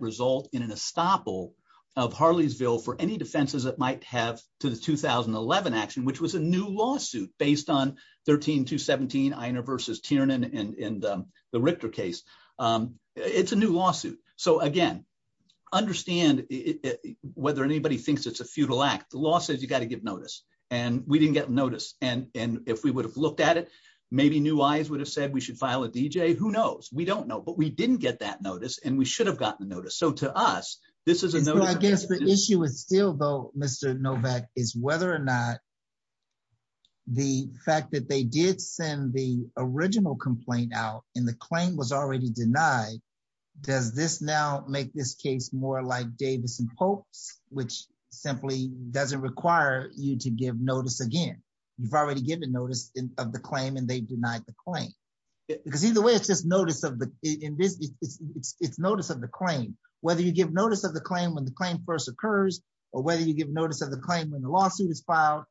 result in an estoppel of Harleysville for any defenses that might have to the 2011 action, which was a new lawsuit based on 13 to 17, Einer versus Tiernan and the Richter case. It's a new lawsuit. So again, understand whether anybody thinks it's a futile act. The law says you've got to give notice and we didn't get notice. And if we would have looked at it, maybe new eyes would have said we should file a DJ. Who knows? We don't know. But we didn't get that notice and we should have gotten the notice. So to us, this is I guess the issue is still, though, Mr. Novak, is whether or not the fact that they did send the original complaint out in the claim was already denied. Does this now make this case more like Davis and Pope's, which simply doesn't require you to give notice again? You've already given notice of the claim and they denied the claim because either way, it's just notice of the it's notice of the claim, whether you give notice of the claim when the claim first occurs or whether you give notice of the claim when the lawsuit is filed.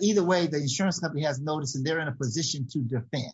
Either way, the insurance company has notice and they're in a position to defend.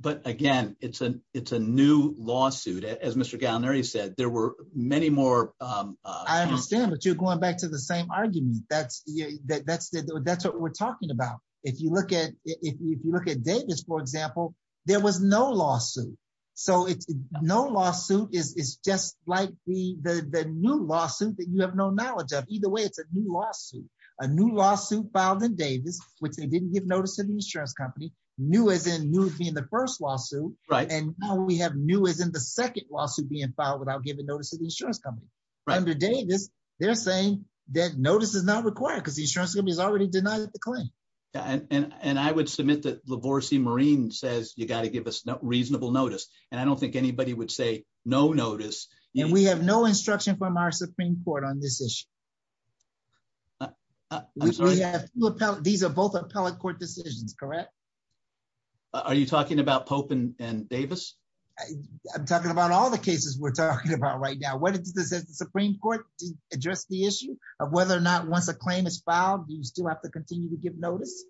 But again, it's a it's a new lawsuit, as Mr. Gallinari said, there were many more. I understand what you're going back to the same argument. That's that's that's what we're talking about. If you look at if you look at Davis, for example, there was no lawsuit. So it's no lawsuit is just like the new lawsuit that you have no knowledge of. Either way, it's a new lawsuit, a new lawsuit filed in Davis, which they didn't give notice to the insurance company, new as in new being the first lawsuit. Right. And now we have new as in the second lawsuit being filed without giving notice to the insurance company. Under Davis, they're saying that notice is not required because the insurance company has already denied the claim. And I would submit that LaVorse Marine says you got to give us reasonable notice. And I don't think anybody would say no notice. And we have no instruction from our Supreme Court on this issue. We have these are both appellate court decisions, correct? Are you talking about Pope and Davis? I'm talking about all the cases we're talking about right now. What is the Supreme Court address the issue of whether or not once a claim is filed, you still have to continue to give notice?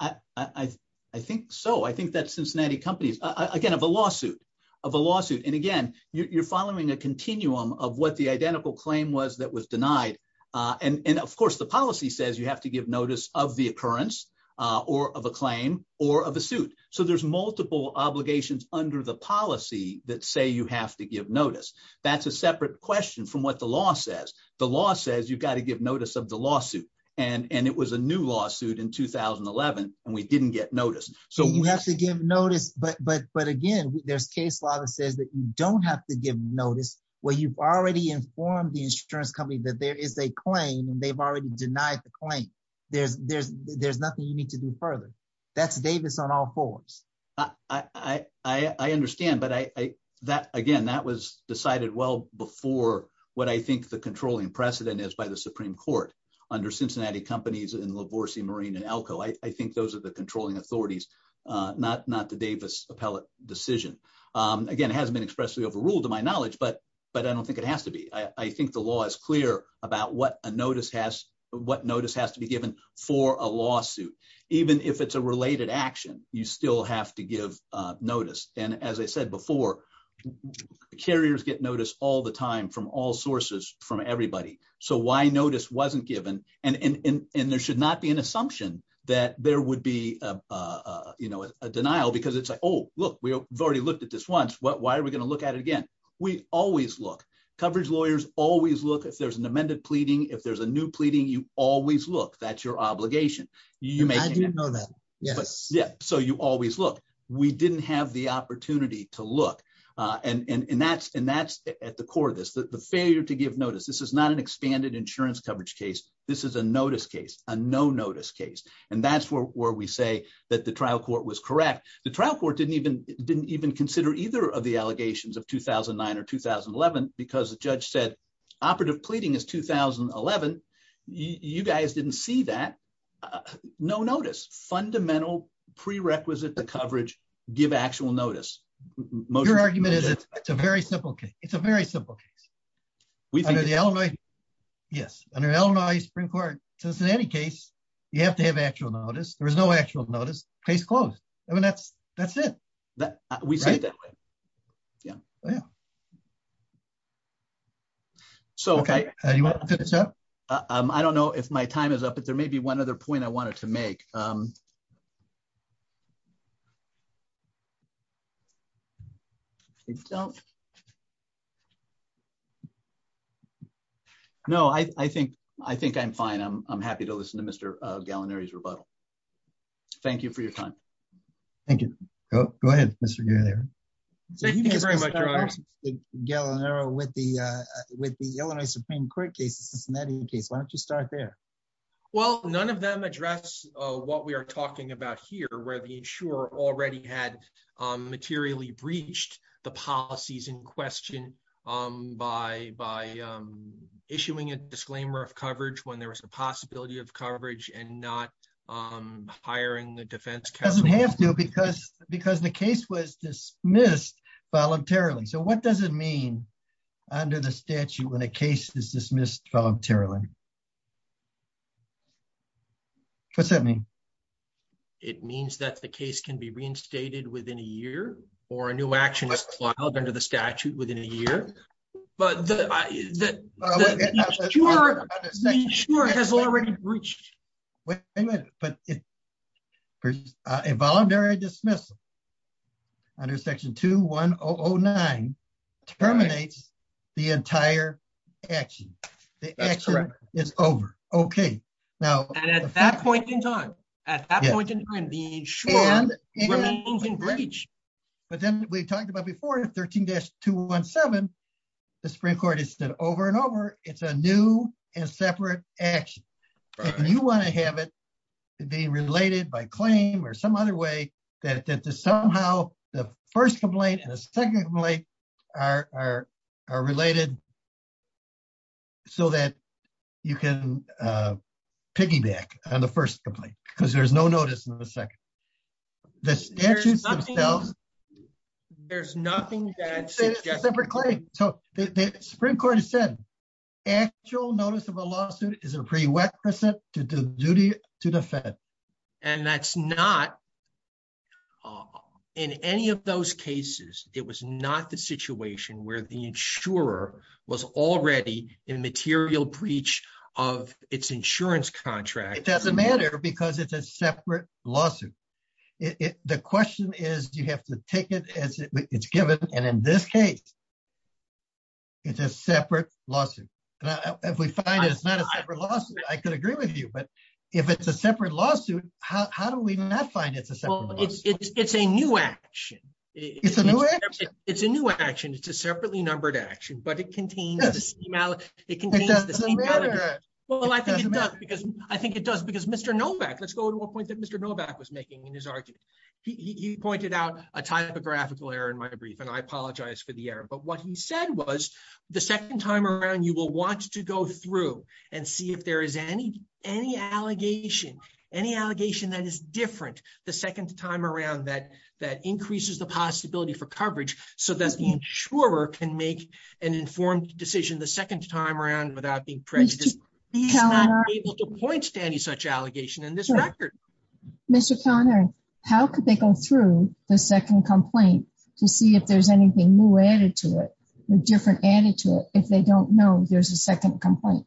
I think so. I think that Cincinnati companies, again, have a lawsuit of a lawsuit. And again, you're following a continuum of what identical claim was that was denied. And of course, the policy says you have to give notice of the occurrence or of a claim or of a suit. So there's multiple obligations under the policy that say you have to give notice. That's a separate question from what the law says. The law says you've got to give notice of the lawsuit. And it was a new lawsuit in 2011, and we didn't get notice. So we have to give notice. But again, there's case law that says you don't have to give notice where you've already informed the insurance company that there is a claim and they've already denied the claim. There's nothing you need to do further. That's Davis on all fours. I understand. But again, that was decided well before what I think the controlling precedent is by the Supreme Court under Cincinnati companies in Lavorsi, Marine and Elko. I think those are the controlling authorities, not the Davis appellate decision. Again, it hasn't been expressly overruled to my knowledge, but I don't think it has to be. I think the law is clear about what a notice has to be given for a lawsuit. Even if it's a related action, you still have to give notice. And as I said before, carriers get notice all the time from all sources, from everybody. So why notice wasn't given? And there should not be an assumption that there would be a denial because it's like, oh, look, we've already looked at this once. Why are we going to look at it again? We always look. Coverage lawyers always look. If there's an amended pleading, if there's a new pleading, you always look. That's your obligation. I didn't know that. Yes. Yeah. So you always look. We didn't have the opportunity to look. And that's at the core of this, the failure to give notice. This is not an expanded insurance coverage case. This is a notice case, a no notice case. And that's where we say that the trial court was correct. The trial court didn't even consider either of the allegations of 2009 or 2011 because the judge said operative pleading is 2011. You guys didn't see that. No notice. Fundamental prerequisite to coverage, give actual notice. Your argument is it's a very simple case. It's a very simple case. Yes. Under Illinois Supreme Court, just in any case, you have to have actual notice. There was no actual notice. Case closed. I mean, that's it. We see it that way. Yeah. So, okay. I don't know if my time is up, but there may be one other point I wanted to make. I don't. No, I think I'm fine. I'm happy to listen to Mr. Gallinari's rebuttal. Thank you for your time. Thank you. Go ahead, Mr. Gallinari. Thank you very much, Your Honor. Mr. Gallinari, with the Illinois Supreme Court case, why don't you start there? Well, none of them address what we are talking about here, where the insurer already had materially breached the policies in question by issuing a disclaimer of coverage when there was a possibility of coverage and not hiring the defense counsel. It doesn't have to because the case was dismissed voluntarily. So, what does it mean under the statute when a case is dismissed voluntarily? What's that mean? It means that the case can be reinstated within a year or a new action is filed under the statute within a year, but the insurer has already breached. Wait a minute, but a voluntary dismissal under section 21009 terminates the entire action. The action is over. Okay. And at that point in time, the insurer remains in breach. But then we talked about before 13-217, the Supreme Court has said over and over, it's a new and separate action. You want to have it be related by claim or some other way that somehow the first complaint and the second complaint are related so that you can piggyback on the first complaint because there's no notice in the second. The statutes themselves... There's nothing that... It's a separate claim. So, the Supreme Court has said actual notice of a lawsuit is a prerequisite to the duty to defend. And that's not... In any of those cases, it was not the situation where the insurer was already in material breach of its insurance contract. It doesn't matter because it's a separate lawsuit. The question is, you have to take it as it's given. And in this case, it's a separate lawsuit. If we find it's not a separate lawsuit, I could agree with you. But if it's a separate lawsuit, how do we not find it's a separate lawsuit? It's a new action. It's a new action. It's a new action. It's a separately numbered action, but it contains the same... It doesn't matter. Well, I think it does because Mr. Novak... Let's go to a point that Mr. Novak was making in his argument. He pointed out a typographical error in my brief, and I apologize for the error. But what he said was, the second time around, you will want to go through and see if there any allegation, any allegation that is different the second time around that increases the possibility for coverage so that the insurer can make an informed decision the second time around without being prejudiced. He's not able to point to any such allegation in this record. Mr. Conner, how could they go through the second complaint to see if there's anything new added to it or different added to it if they don't know there's a second complaint?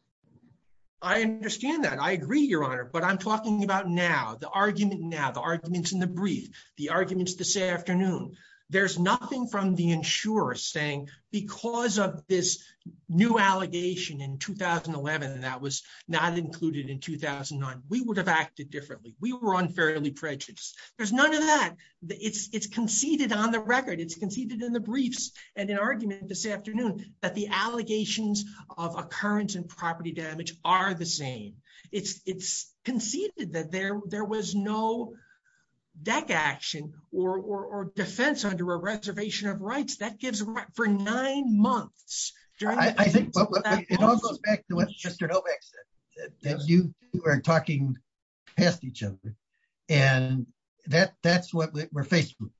I understand that. I agree, Your Honor. But I'm talking about now, the argument now, the arguments in the brief, the arguments this afternoon. There's nothing from the insurer saying, because of this new allegation in 2011, and that was not included in 2009, we would have acted differently. We were unfairly prejudiced. There's none of that. It's conceded on the record. It's conceded in the briefs and in argument this afternoon that the allegations of occurrence and property damage are the same. It's conceded that there was no deck action or defense under a reservation of rights. That gives for nine months. It all goes back to what Mr. Novak said, that you were talking past each other. And that's what we're faced with.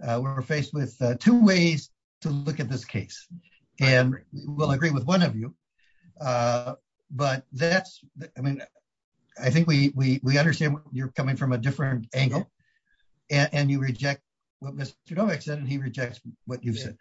We're faced with two ways to look at this case. And we'll agree with one of you. But that's, I mean, I think we understand you're coming from a different angle. And you reject what Mr. Novak said, and he rejects what you've said.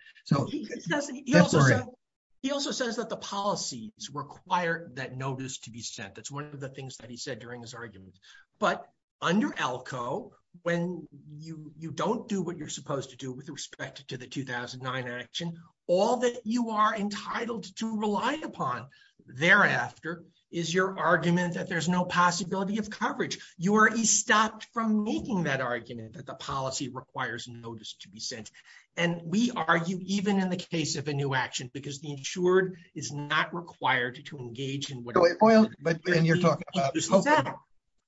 He also says that the policies require that notice to be sent. That's one of the things that he said during his argument. But under ELCO, when you don't do what you're supposed to do with respect to the 2009 action, all that you are entitled to rely upon thereafter is your argument that there's no possibility of coverage. You already stopped from making that argument that the policy requires notice to be sent. And we argue even in the case of a new action, because the insured is not required to engage in what you're talking about.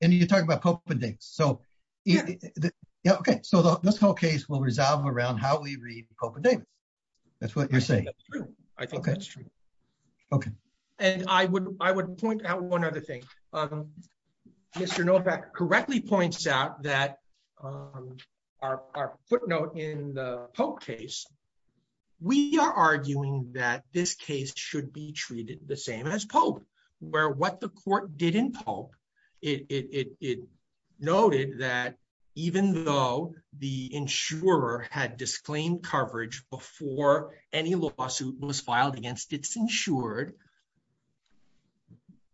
And you're talking about Pope and David. So yeah, okay. So this whole case will resolve around how we read Pope and David. That's what you're saying. That's true. I think that's true. Okay. And I would point out one other thing. Mr. Novak correctly points out that our footnote in the Pope case, we are arguing that this case should be treated the same as Pope, where what the court did in Pope, it noted that even though the insurer had disclaimed coverage before any lawsuit was filed against its insured,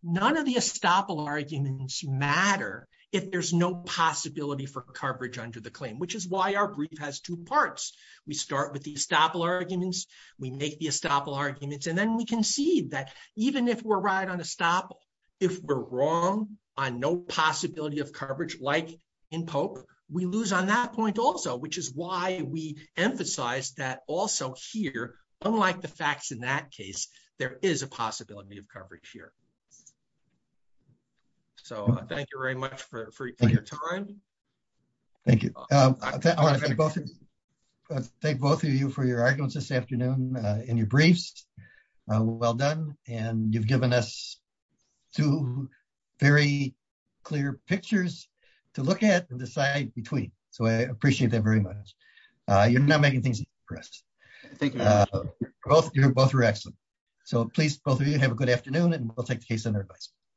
none of the estoppel arguments matter if there's no possibility for coverage under the claim, which is why our brief has two parts. We start with the estoppel arguments. We make the estoppel arguments. And then we concede that even if we're right on estoppel, if we're wrong on no possibility of coverage, like in Pope, we lose on that point also, which is why we emphasize that also here, unlike the facts in that case, there is a possibility of coverage here. So thank you very much for your time. Thank you. Thank both of you for your arguments this well done. And you've given us two very clear pictures to look at and decide between. So I appreciate that very much. You're not making things for us. Both are excellent. So please, both of you have a good afternoon and we'll take the case on their advice.